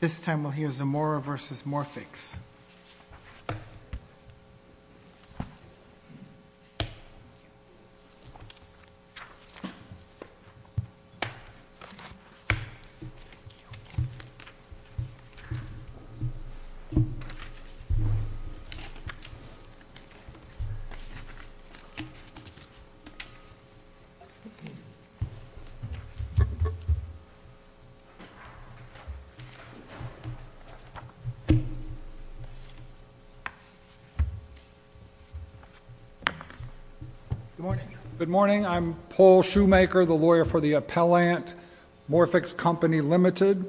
This time we'll hear Zamora v. Morphix. Good morning. I'm Paul Shoemaker, the lawyer for the appellant, Morphix Company, Ltd.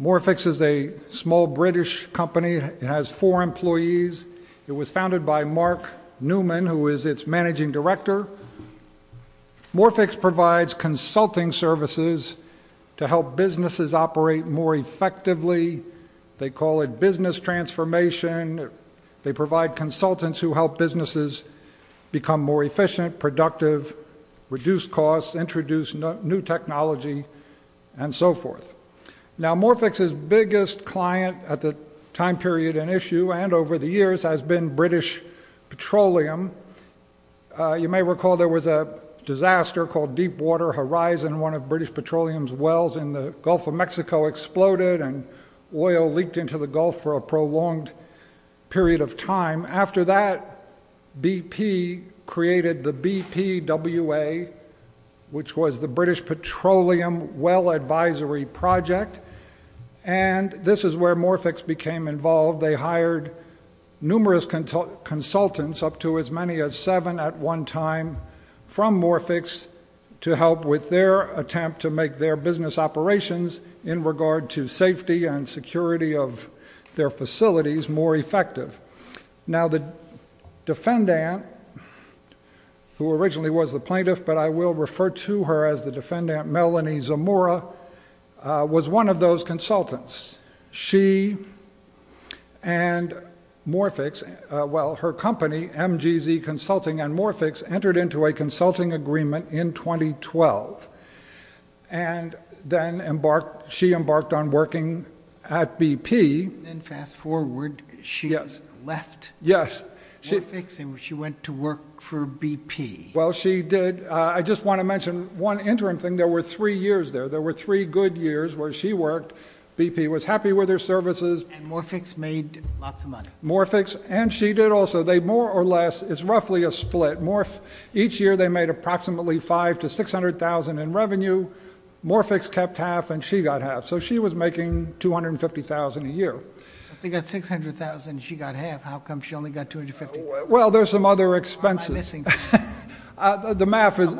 Morphix is a small British company. It has four employees. It was founded by Mark Newman, who is its managing director. Morphix provides consulting services to help businesses operate more effectively. They call it business transformation. They provide consultants who help businesses become more efficient, productive, reduce costs, introduce new technology, and so forth. Now, Morphix's biggest client at the time period in issue and over the years has been British Petroleum. You may recall there was a disaster called Deepwater Horizon. One of British Petroleum's wells in the Gulf of Mexico exploded and oil leaked into the Gulf for a prolonged period of time. After that, BP created the BPWA, which was the British Petroleum Well Advisory Project. And this is where Morphix became involved. They hired numerous consultants, up to as many as seven at one time, from Morphix to help with their attempt to make their business operations in regard to safety and security of their facilities more effective. Now, the defendant, who originally was the plaintiff, but I will refer to her as the defendant, Melanie Zamora, was one of those consultants. She and Morphix, well, her company, MGZ Consulting and Morphix, entered into a consulting agreement in 2012. And then she embarked on working at BP. And fast forward, she left Morphix and she went to work for BP. Well, she did. I just want to mention one interim thing. There were three years there. There were three good years where she worked. BP was happy with her services. And Morphix made lots of money. Morphix, and she did also. They more or less, it's roughly a split. Each year they made approximately $500,000 to $600,000 in revenue. Morphix kept half and she got half. So she was making $250,000 a year. If they got $600,000 and she got half, how come she only got $250,000? Well, there's some other expenses. What am I missing? The math is,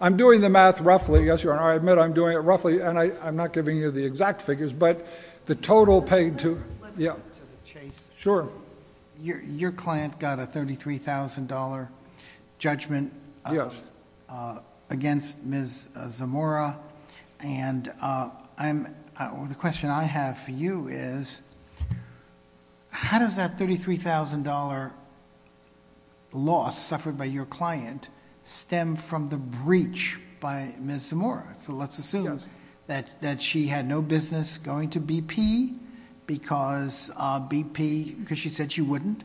I'm doing the math roughly. Yes, Your Honor, I admit I'm doing it roughly. And I'm not giving you the exact figures, but the total paid to, yeah. Let's go to the chase. Sure. Your client got a $33,000 judgment against Ms. Zamora. And the question I have for you is, how does that $33,000 loss suffered by your client stem from the breach by Ms. Zamora? So let's assume that she had no business going to BP because BP, because she said she wouldn't,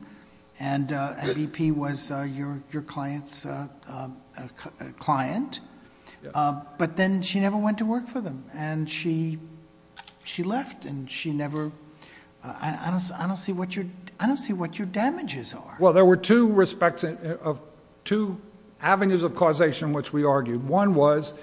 and BP was your client's client. But then she never went to work for them. And she left and she never, I don't see what your damages are. Well, there were two avenues of causation which we argued. One was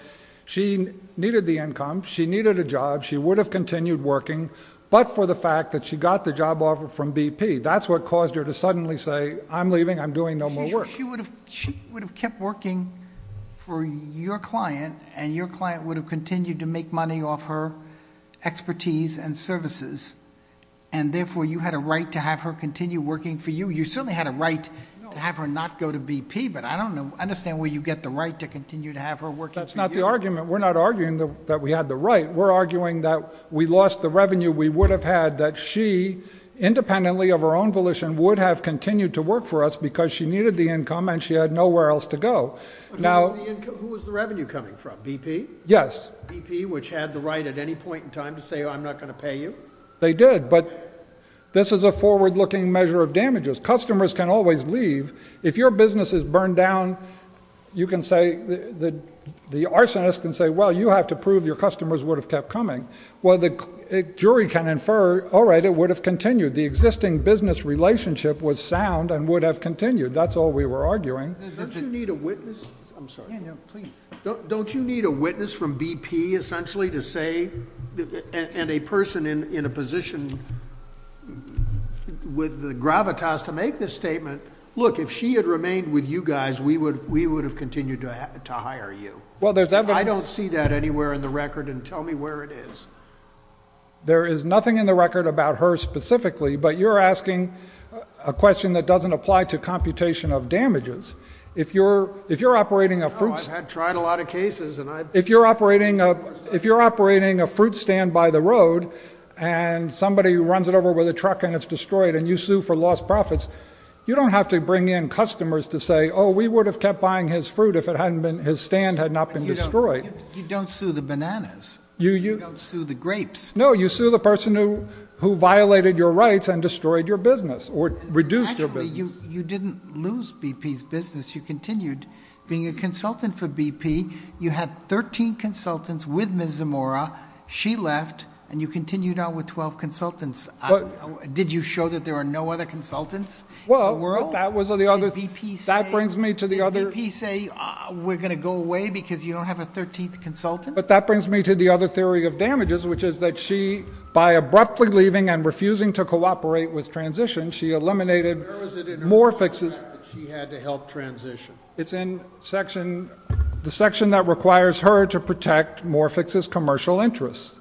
she needed the income, she needed a job, she would have continued working, but for the fact that she got the job offer from BP. That's what caused her to suddenly say, I'm leaving, I'm doing no more work. She would have kept working for your client, and your client would have continued to make money off her expertise and services, and therefore you had a right to have her continue working for you. You certainly had a right to have her not go to BP, but I don't understand where you get the right to continue to have her working for you. That's not the argument. We're not arguing that we had the right. We're arguing that we lost the revenue we would have had that she, independently of her own volition, would have continued to work for us because she needed the income and she had nowhere else to go. Who was the revenue coming from, BP? Yes. BP, which had the right at any point in time to say, I'm not going to pay you? They did, but this is a forward-looking measure of damages. Customers can always leave. If your business is burned down, you can say, the arsonist can say, well, you have to prove your customers would have kept coming. Well, the jury can infer, all right, it would have continued. The existing business relationship was sound and would have continued. That's all we were arguing. Don't you need a witness from BP, essentially, to say, and a person in a position with the gravitas to make this statement, look, if she had remained with you guys, we would have continued to hire you. I don't see that anywhere in the record, and tell me where it is. There is nothing in the record about her specifically, but you're asking a question that doesn't apply to computation of damages. I've tried a lot of cases. If you're operating a fruit stand by the road and somebody runs it over with a truck and it's destroyed and you sue for lost profits, you don't have to bring in customers to say, oh, we would have kept buying his fruit if his stand had not been destroyed. You don't sue the bananas. You don't sue the grapes. No, you sue the person who violated your rights and destroyed your business or reduced your business. Actually, you didn't lose BP's business. You continued being a consultant for BP. You had 13 consultants with Ms. Zamora. She left, and you continued on with 12 consultants. Did you show that there are no other consultants in the world? Well, that was the other thing. But that brings me to the other theory of damages, which is that she, by abruptly leaving and refusing to cooperate with transition, she eliminated Morphix's. Where was it in her contract that she had to help transition? It's in the section that requires her to protect Morphix's commercial interests.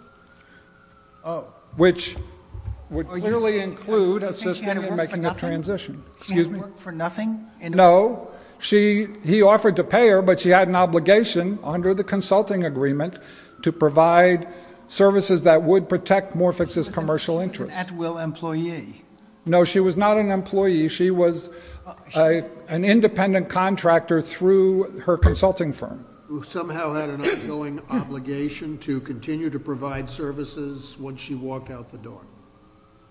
Oh. Which would clearly include assisting in making the transition. You think she had to work for nothing? No. He offered to pay her, but she had an obligation under the consulting agreement to provide services that would protect Morphix's commercial interests. She was an at-will employee. No, she was not an employee. She was an independent contractor through her consulting firm. Who somehow had an ongoing obligation to continue to provide services once she walked out the door.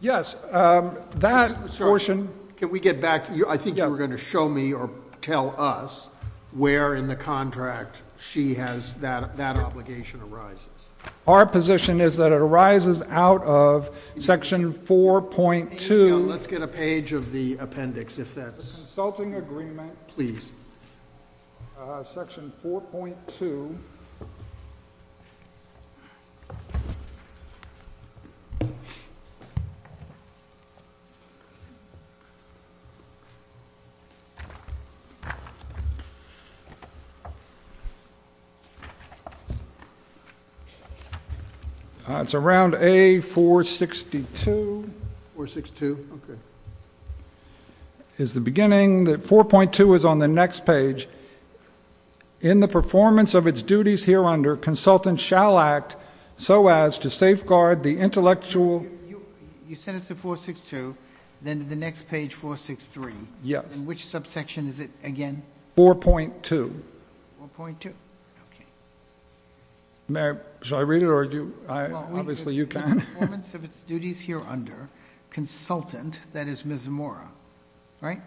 Yes. Can we get back? I think you were going to show me or tell us where in the contract she has that obligation arises. Our position is that it arises out of section 4.2. Let's get a page of the appendix. The consulting agreement. Please. Section 4.2. It's around A462. 462. It's the beginning. 4.2 is on the next page. In the performance of its duties here under, consultant shall act so as to safeguard the intellectual. You sent us to 462. Then to the next page, 463. Yes. Which subsection is it again? 4.2. 4.2. Okay. May I read it? Obviously you can. In the performance of its duties here under, consultant, that is Ms. Zamora, right?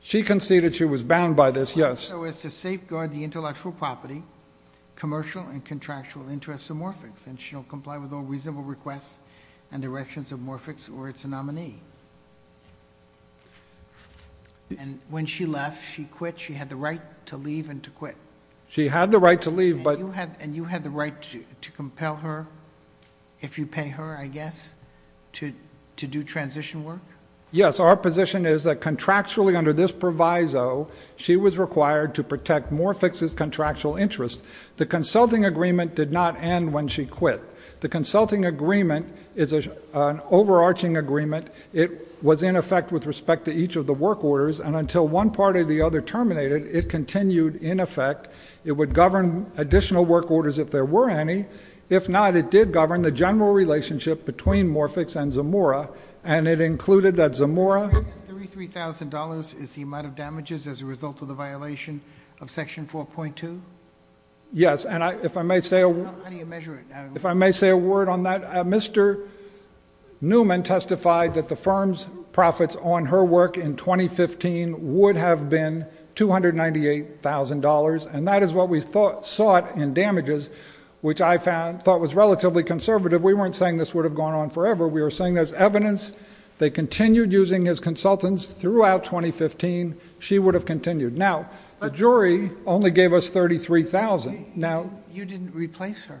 She conceded she was bound by this, yes. So as to safeguard the intellectual property, commercial, and contractual interests of Morphix. And she'll comply with all reasonable requests and directions of Morphix or its nominee. And when she left, she quit. She had the right to leave and to quit. She had the right to leave. And you had the right to compel her, if you pay her, I guess, to do transition work? Yes. Our position is that contractually under this proviso, she was required to protect Morphix's contractual interests. The consulting agreement did not end when she quit. The consulting agreement is an overarching agreement. It was in effect with respect to each of the work orders. And until one part or the other terminated, it continued in effect. It would govern additional work orders if there were any. If not, it did govern the general relationship between Morphix and Zamora. And it included that Zamora. $33,000 is the amount of damages as a result of the violation of Section 4.2? Yes. And if I may say a word. How do you measure it? If I may say a word on that. Mr. Newman testified that the firm's profits on her work in 2015 would have been $298,000. And that is what we sought in damages, which I thought was relatively conservative. We weren't saying this would have gone on forever. We were saying there's evidence. They continued using his consultants throughout 2015. She would have continued. Now, the jury only gave us $33,000. You didn't replace her?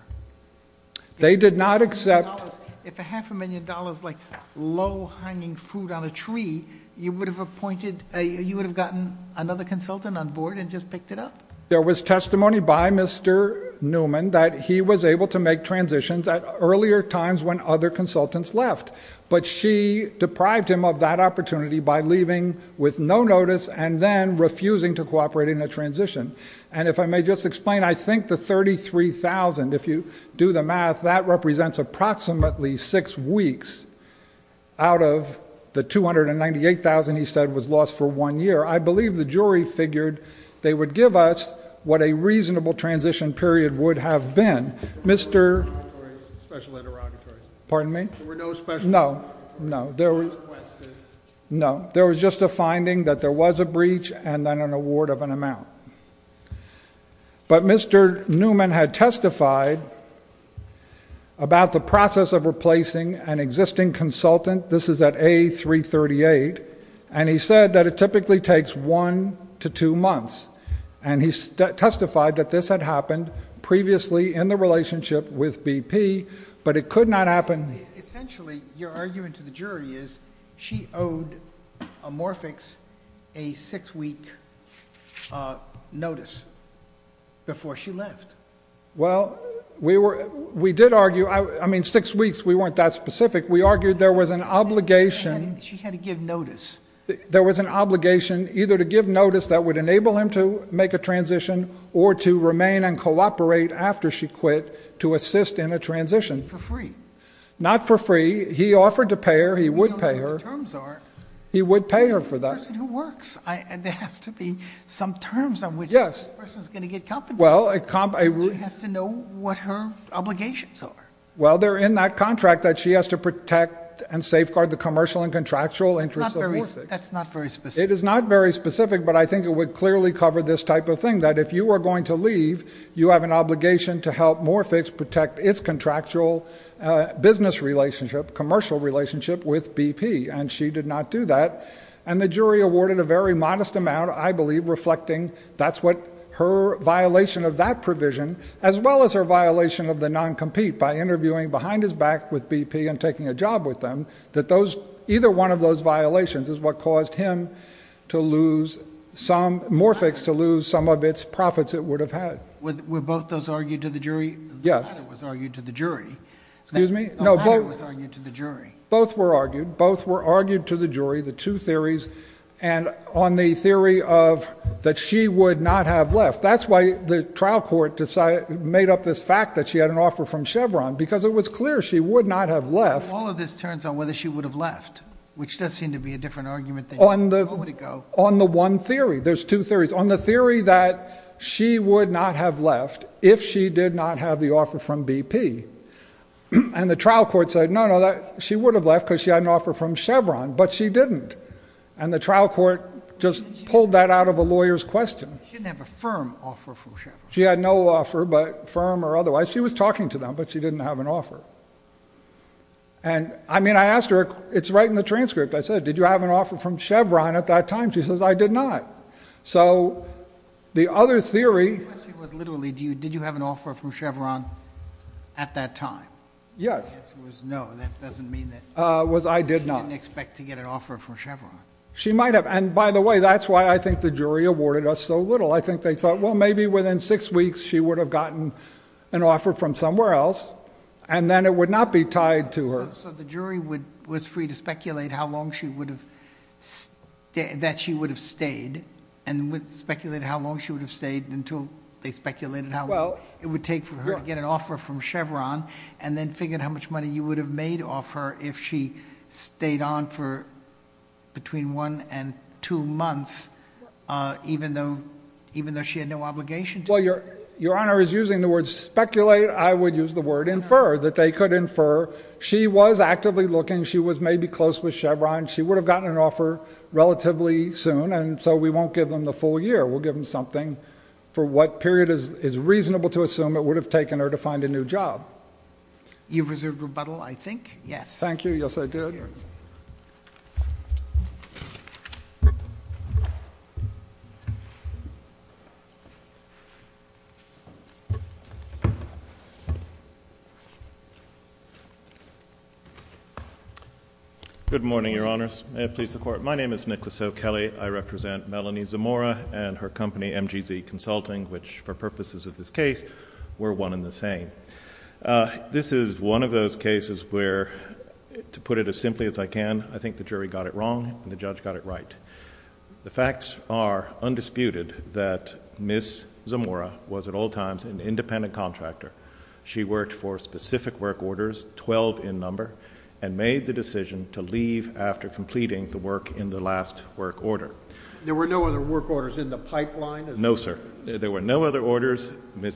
They did not accept. If a half a million dollars like low-hanging fruit on a tree, you would have appointed, you would have gotten another consultant on board and just picked it up? There was testimony by Mr. Newman that he was able to make transitions at earlier times when other consultants left. But she deprived him of that opportunity by leaving with no notice and then refusing to cooperate in a transition. And if I may just explain, I think the $33,000, if you do the math, that represents approximately six weeks out of the $298,000 he said was lost for one year. I believe the jury figured they would give us what a reasonable transition period would have been. There were no special interrogatories? Pardon me? There were no special interrogatories? No, no. There were no requests? No. There was just a finding that there was a breach and then an award of an amount. But Mr. Newman had testified about the process of replacing an existing consultant. This is at A338. And he said that it typically takes one to two months. And he testified that this had happened previously in the relationship with BP, but it could not happen. Essentially, your argument to the jury is she owed Amorphix a six-week notice before she left. Well, we did argue. I mean, six weeks, we weren't that specific. We argued there was an obligation. She had to give notice. There was an obligation either to give notice that would enable him to make a transition or to remain and cooperate after she quit to assist in a transition. For free? Not for free. He offered to pay her. He would pay her. We don't know what the terms are. He would pay her for that. She's a person who works. There has to be some terms on which this person is going to get compensated. Well, a comp — She has to know what her obligations are. Well, they're in that contract that she has to protect and safeguard the commercial and contractual interests of Amorphix. That's not very specific. It is not very specific, but I think it would clearly cover this type of thing, that if you are going to leave, you have an obligation to help Amorphix protect its contractual business relationship, commercial relationship with BP, and she did not do that. And the jury awarded a very modest amount, I believe, reflecting that's what her violation of that provision, as well as her violation of the non-compete by interviewing behind his back with BP and taking a job with them, that those — either one of those violations is what caused him to lose some — Amorphix to lose some of its profits it would have had. Were both those argued to the jury? Yes. The latter was argued to the jury. Excuse me? No, both — The latter was argued to the jury. Both were argued. Both were argued to the jury, the two theories, and on the theory of that she would not have left. That's why the trial court made up this fact that she had an offer from Chevron, because it was clear she would not have left. But if all of this turns on whether she would have left, which does seem to be a different argument than — On the — Where would it go? On the one theory. There's two theories. On the theory that she would not have left if she did not have the offer from BP. And the trial court said, no, no, she would have left because she had an offer from Chevron, but she didn't. And the trial court just pulled that out of a lawyer's question. She didn't have a firm offer from Chevron. She had no offer, firm or otherwise. She was talking to them, but she didn't have an offer. And, I mean, I asked her — it's right in the transcript. I said, did you have an offer from Chevron at that time? She says, I did not. So the other theory — The question was literally, did you have an offer from Chevron at that time? Yes. The answer was no. That doesn't mean that — Was I did not. She didn't expect to get an offer from Chevron. She might have. And, by the way, that's why I think the jury awarded us so little. I think they thought, well, maybe within six weeks she would have gotten an offer from somewhere else. And then it would not be tied to her. So the jury was free to speculate how long she would have — that she would have stayed. And speculated how long she would have stayed until they speculated how long it would take for her to get an offer from Chevron. And then figured how much money you would have made off her if she stayed on for between one and two months, even though she had no obligation to — Well, Your Honor is using the word speculate. I would use the word infer that they could infer she was actively looking. She was maybe close with Chevron. She would have gotten an offer relatively soon. And so we won't give them the full year. We'll give them something for what period is reasonable to assume it would have taken her to find a new job. You've reserved rebuttal, I think. Yes. Thank you. Yes, I did. Thank you. Good morning, Your Honors. May it please the Court. My name is Nicholas O'Kelly. I represent Melanie Zamora and her company, MGZ Consulting, which, for purposes of this case, were one and the same. This is one of those cases where, to put it as simply as I can, I think the jury got it wrong and the judge got it right. The facts are undisputed that Ms. Zamora was at all times an independent contractor. She worked for specific work orders, 12 in number, and made the decision to leave after completing the work in the last work order. There were no other work orders in the pipeline? No, sir. There were no other orders.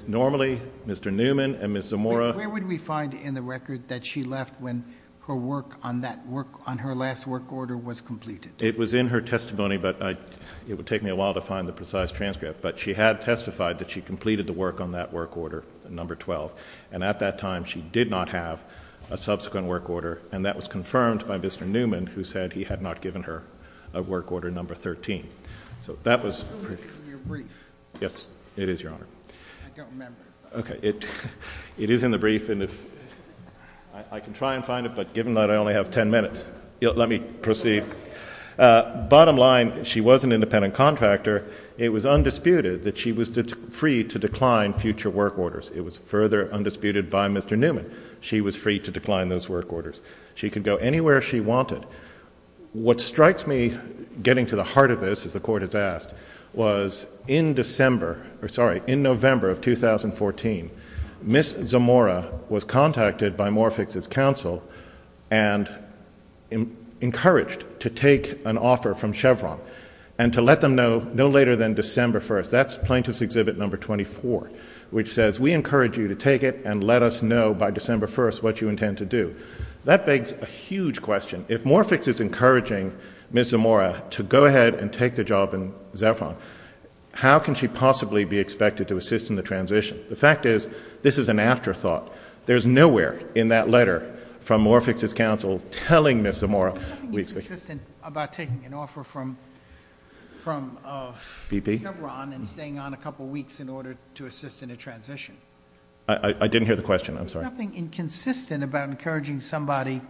Normally, Mr. Newman and Ms. Zamora — Where would we find in the record that she left when her work on that work — on her last work order was completed? It was in her testimony, but I — it would take me a while to find the precise transcript. But she had testified that she completed the work on that work order, number 12. And at that time, she did not have a subsequent work order, and that was confirmed by Mr. Newman, who said he had not given her a work order, number 13. So that was — It's in your brief. Yes, it is, Your Honor. I don't remember. Okay. It is in the brief, and if — I can try and find it, but given that I only have 10 minutes, let me proceed. Bottom line, she was an independent contractor. It was undisputed that she was free to decline future work orders. It was further undisputed by Mr. Newman. She was free to decline those work orders. She could go anywhere she wanted. What strikes me getting to the heart of this, as the Court has asked, was in December — or, sorry, in November of 2014, Ms. Zamora was contacted by Morphix's counsel and encouraged to take an offer from Chevron and to let them know no later than December 1st. That's Plaintiff's Exhibit Number 24, which says, We encourage you to take it and let us know by December 1st what you intend to do. That begs a huge question. If Morphix is encouraging Ms. Zamora to go ahead and take the job in Zevron, how can she possibly be expected to assist in the transition? The fact is, this is an afterthought. There's nowhere in that letter from Morphix's counsel telling Ms. Zamora — There's nothing inconsistent about taking an offer from Chevron and staying on a couple weeks in order to assist in a transition. I didn't hear the question. I'm sorry. There's nothing inconsistent about encouraging somebody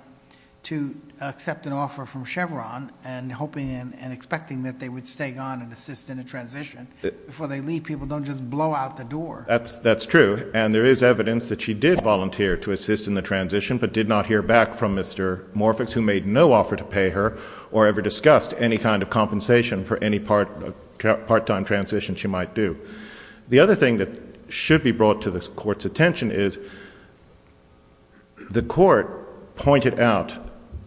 to accept an offer from Chevron and hoping and expecting that they would stay on and assist in a transition. Before they leave, people don't just blow out the door. That's true. And there is evidence that she did volunteer to assist in the transition but did not hear back from Mr. Morphix, who made no offer to pay her or ever discussed any kind of compensation for any part-time transition she might do. The other thing that should be brought to the court's attention is the court pointed out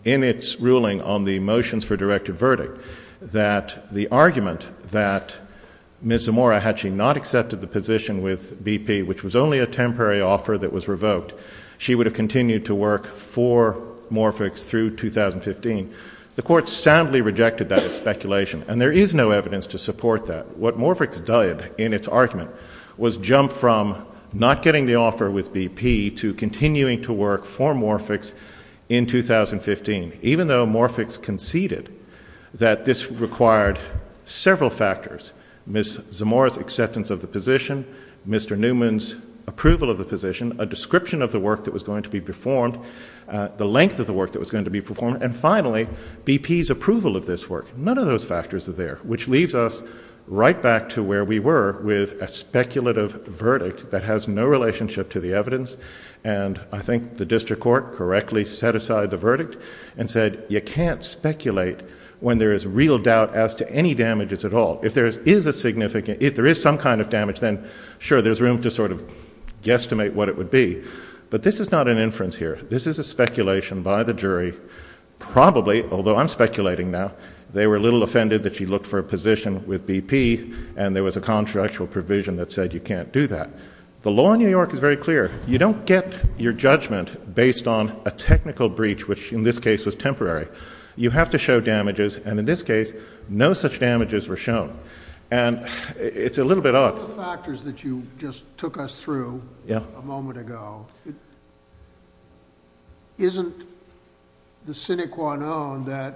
in its ruling on the motions for directive verdict that the argument that Ms. Zamora, had she not accepted the position with BP, which was only a temporary offer that was revoked, she would have continued to work for Morphix through 2015. The court soundly rejected that speculation, and there is no evidence to support that. What Morphix did in its argument was jump from not getting the offer with BP to continuing to work for Morphix in 2015, even though Morphix conceded that this required several factors, Ms. Zamora's acceptance of the position, Mr. Newman's approval of the position, a description of the work that was going to be performed, the length of the work that was going to be performed, and finally, BP's approval of this work. None of those factors are there, which leaves us right back to where we were with a speculative verdict that has no relationship to the evidence, and I think the district court correctly set aside the verdict and said you can't speculate when there is real doubt as to any damages at all. If there is some kind of damage, then sure, there's room to sort of guesstimate what it would be, but this is not an inference here. This is a speculation by the jury. Probably, although I'm speculating now, they were a little offended that she looked for a position with BP, and there was a contractual provision that said you can't do that. The law in New York is very clear. You don't get your judgment based on a technical breach, which in this case was temporary. You have to show damages, and in this case, no such damages were shown, and it's a little bit odd. One of the factors that you just took us through a moment ago, isn't the sine qua non that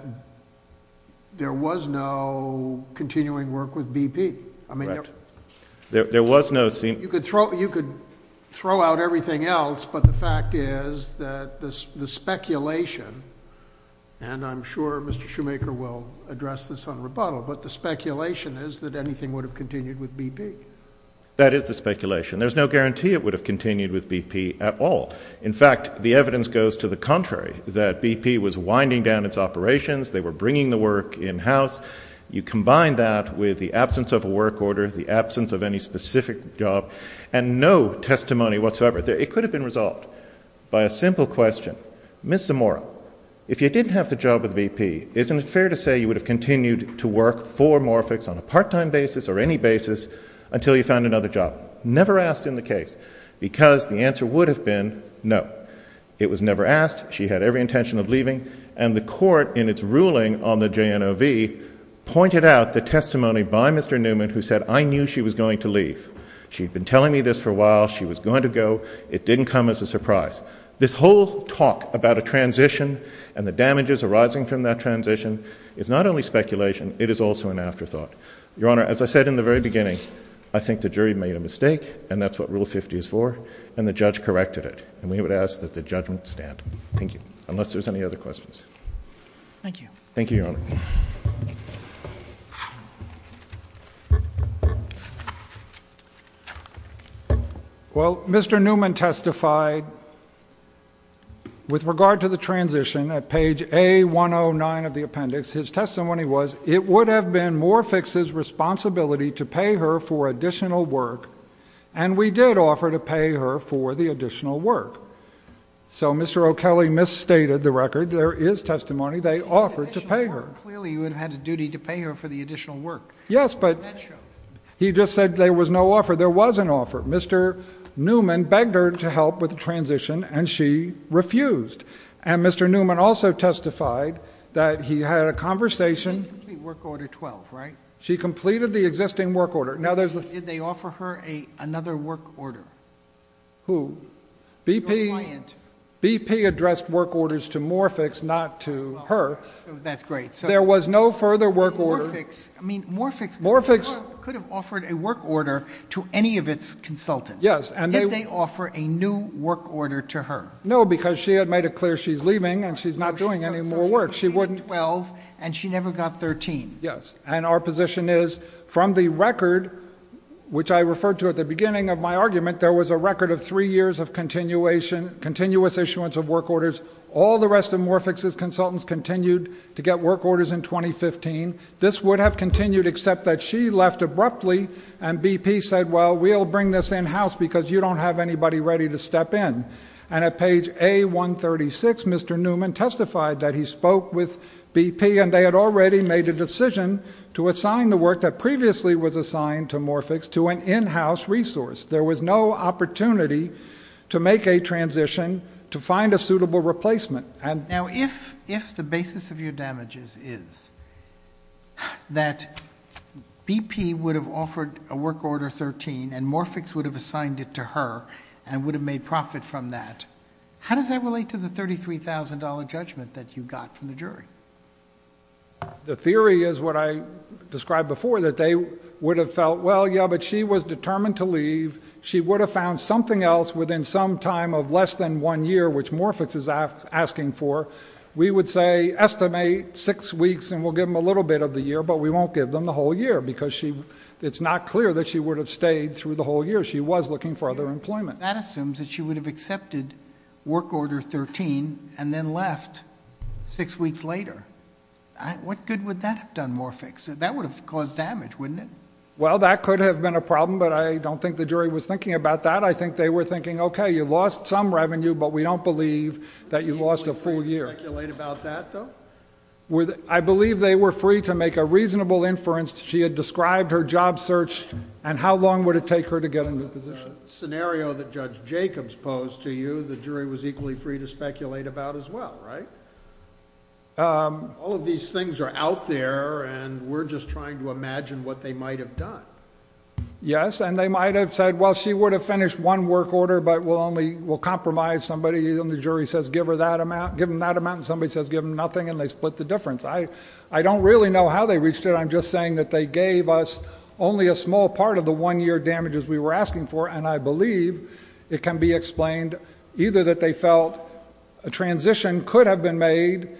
there was no continuing work with BP? You could throw out everything else, but the fact is that the speculation, and I'm sure Mr. Shoemaker will address this on rebuttal, but the speculation is that anything would have continued with BP. That is the speculation. There's no guarantee it would have continued with BP at all. In fact, the evidence goes to the contrary, that BP was winding down its operations. They were bringing the work in-house. You combine that with the absence of a work order, the absence of any specific job, and no testimony whatsoever. It could have been resolved by a simple question. Ms. Zamora, if you didn't have the job with BP, isn't it fair to say you would have continued to work for Morphix on a part-time basis or any basis until you found another job? Never asked in the case, because the answer would have been no. It was never asked. She had every intention of leaving, and the court, in its ruling on the JNOV, pointed out the testimony by Mr. Newman who said, I knew she was going to leave. She'd been telling me this for a while. She was going to go. It didn't come as a surprise. This whole talk about a transition and the damages arising from that transition is not only speculation. It is also an afterthought. Your Honor, as I said in the very beginning, I think the jury made a mistake, and that's what Rule 50 is for, and the judge corrected it. And we would ask that the judgment stand. Thank you. Thank you. Thank you, Your Honor. Thank you. Well, Mr. Newman testified with regard to the transition at page A109 of the appendix. His testimony was, it would have been Morphix's responsibility to pay her for additional work, and we did offer to pay her for the additional work. So Mr. O'Kelley misstated the record. There is testimony. They offered to pay her. Clearly you would have had a duty to pay her for the additional work. Yes, but he just said there was no offer. There was an offer. Mr. Newman begged her to help with the transition, and she refused. And Mr. Newman also testified that he had a conversation. She didn't complete Work Order 12, right? She completed the existing work order. Did they offer her another work order? Who? Your client. BP addressed work orders to Morphix, not to her. That's great. There was no further work order. Morphix could have offered a work order to any of its consultants. Did they offer a new work order to her? No, because she had made it clear she's leaving, and she's not doing any more work. She completed Work Order 12, and she never got 13. Yes, and our position is from the record, which I referred to at the beginning of my argument, there was a record of three years of continuous issuance of work orders. All the rest of Morphix's consultants continued to get work orders in 2015. This would have continued, except that she left abruptly, and BP said, well, we'll bring this in-house because you don't have anybody ready to step in. And at page A136, Mr. Newman testified that he spoke with BP, and they had already made a decision to assign the work that previously was assigned to Morphix to an in-house resource. There was no opportunity to make a transition to find a suitable replacement. Now, if the basis of your damages is that BP would have offered a work order 13 and Morphix would have assigned it to her and would have made profit from that, how does that relate to the $33,000 judgment that you got from the jury? The theory is what I described before, that they would have felt, well, yeah, but she was determined to leave. She would have found something else within some time of less than one year, which Morphix is asking for. We would say estimate six weeks and we'll give them a little bit of the year, but we won't give them the whole year because it's not clear that she would have stayed through the whole year. She was looking for other employment. That assumes that she would have accepted work order 13 and then left six weeks later. What good would that have done Morphix? That would have caused damage, wouldn't it? Well, that could have been a problem, but I don't think the jury was thinking about that. I think they were thinking, okay, you lost some revenue, but we don't believe that you lost a full year. Would the jury be free to speculate about that though? I believe they were free to make a reasonable inference. She had described her job search and how long would it take her to get into position. The scenario that Judge Jacobs posed to you, the jury was equally free to speculate about as well, right? All of these things are out there and we're just trying to imagine what they might have done. Yes, and they might have said, well, she would have finished one work order, but we'll compromise somebody and the jury says give her that amount, give them that amount, and somebody says give them nothing, and they split the difference. I don't really know how they reached it. I'm just saying that they gave us only a small part of the one-year damages we were asking for, and I believe it can be explained either that they felt a transition could have been made,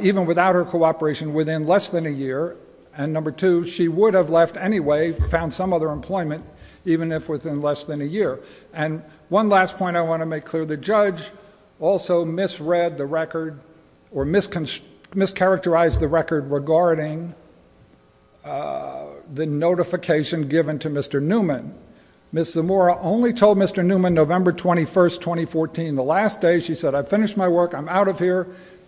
even without her cooperation, within less than a year, and number two, she would have left anyway, found some other employment, even if within less than a year. One last point I want to make clear, the judge also misread the record or mischaracterized the record regarding the notification given to Mr. Newman. Ms. Zamora only told Mr. Newman November 21st, 2014. The last day she said, I finished my work, I'm out of here.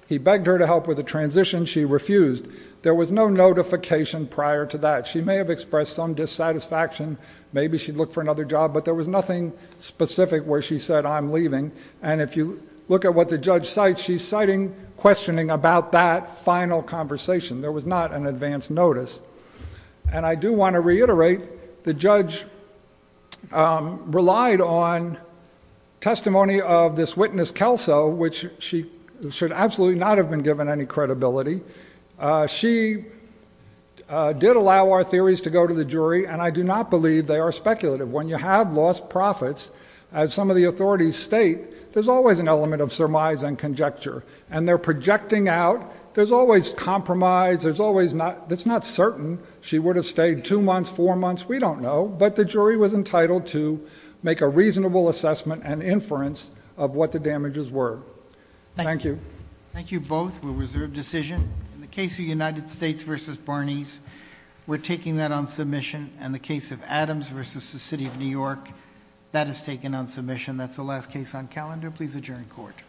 He begged her to help with the transition. She refused. There was no notification prior to that. She may have expressed some dissatisfaction. Maybe she'd look for another job, but there was nothing specific where she said I'm leaving, and if you look at what the judge cites, she's citing questioning about that final conversation. There was not an advance notice, and I do want to reiterate the judge relied on testimony of this witness, Kelso, which she should absolutely not have been given any credibility. She did allow our theories to go to the jury, and I do not believe they are speculative. When you have lost profits, as some of the authorities state, there's always an element of surmise and conjecture, and they're projecting out, there's always compromise, it's not certain. She would have stayed two months, four months, we don't know, but the jury was entitled to make a reasonable assessment and inference of what the damages were. Thank you. Thank you both. We'll reserve decision. In the case of United States v. Barneys, we're taking that on submission. In the case of Adams v. the City of New York, that is taken on submission. That's the last case on calendar. Can I please adjourn court?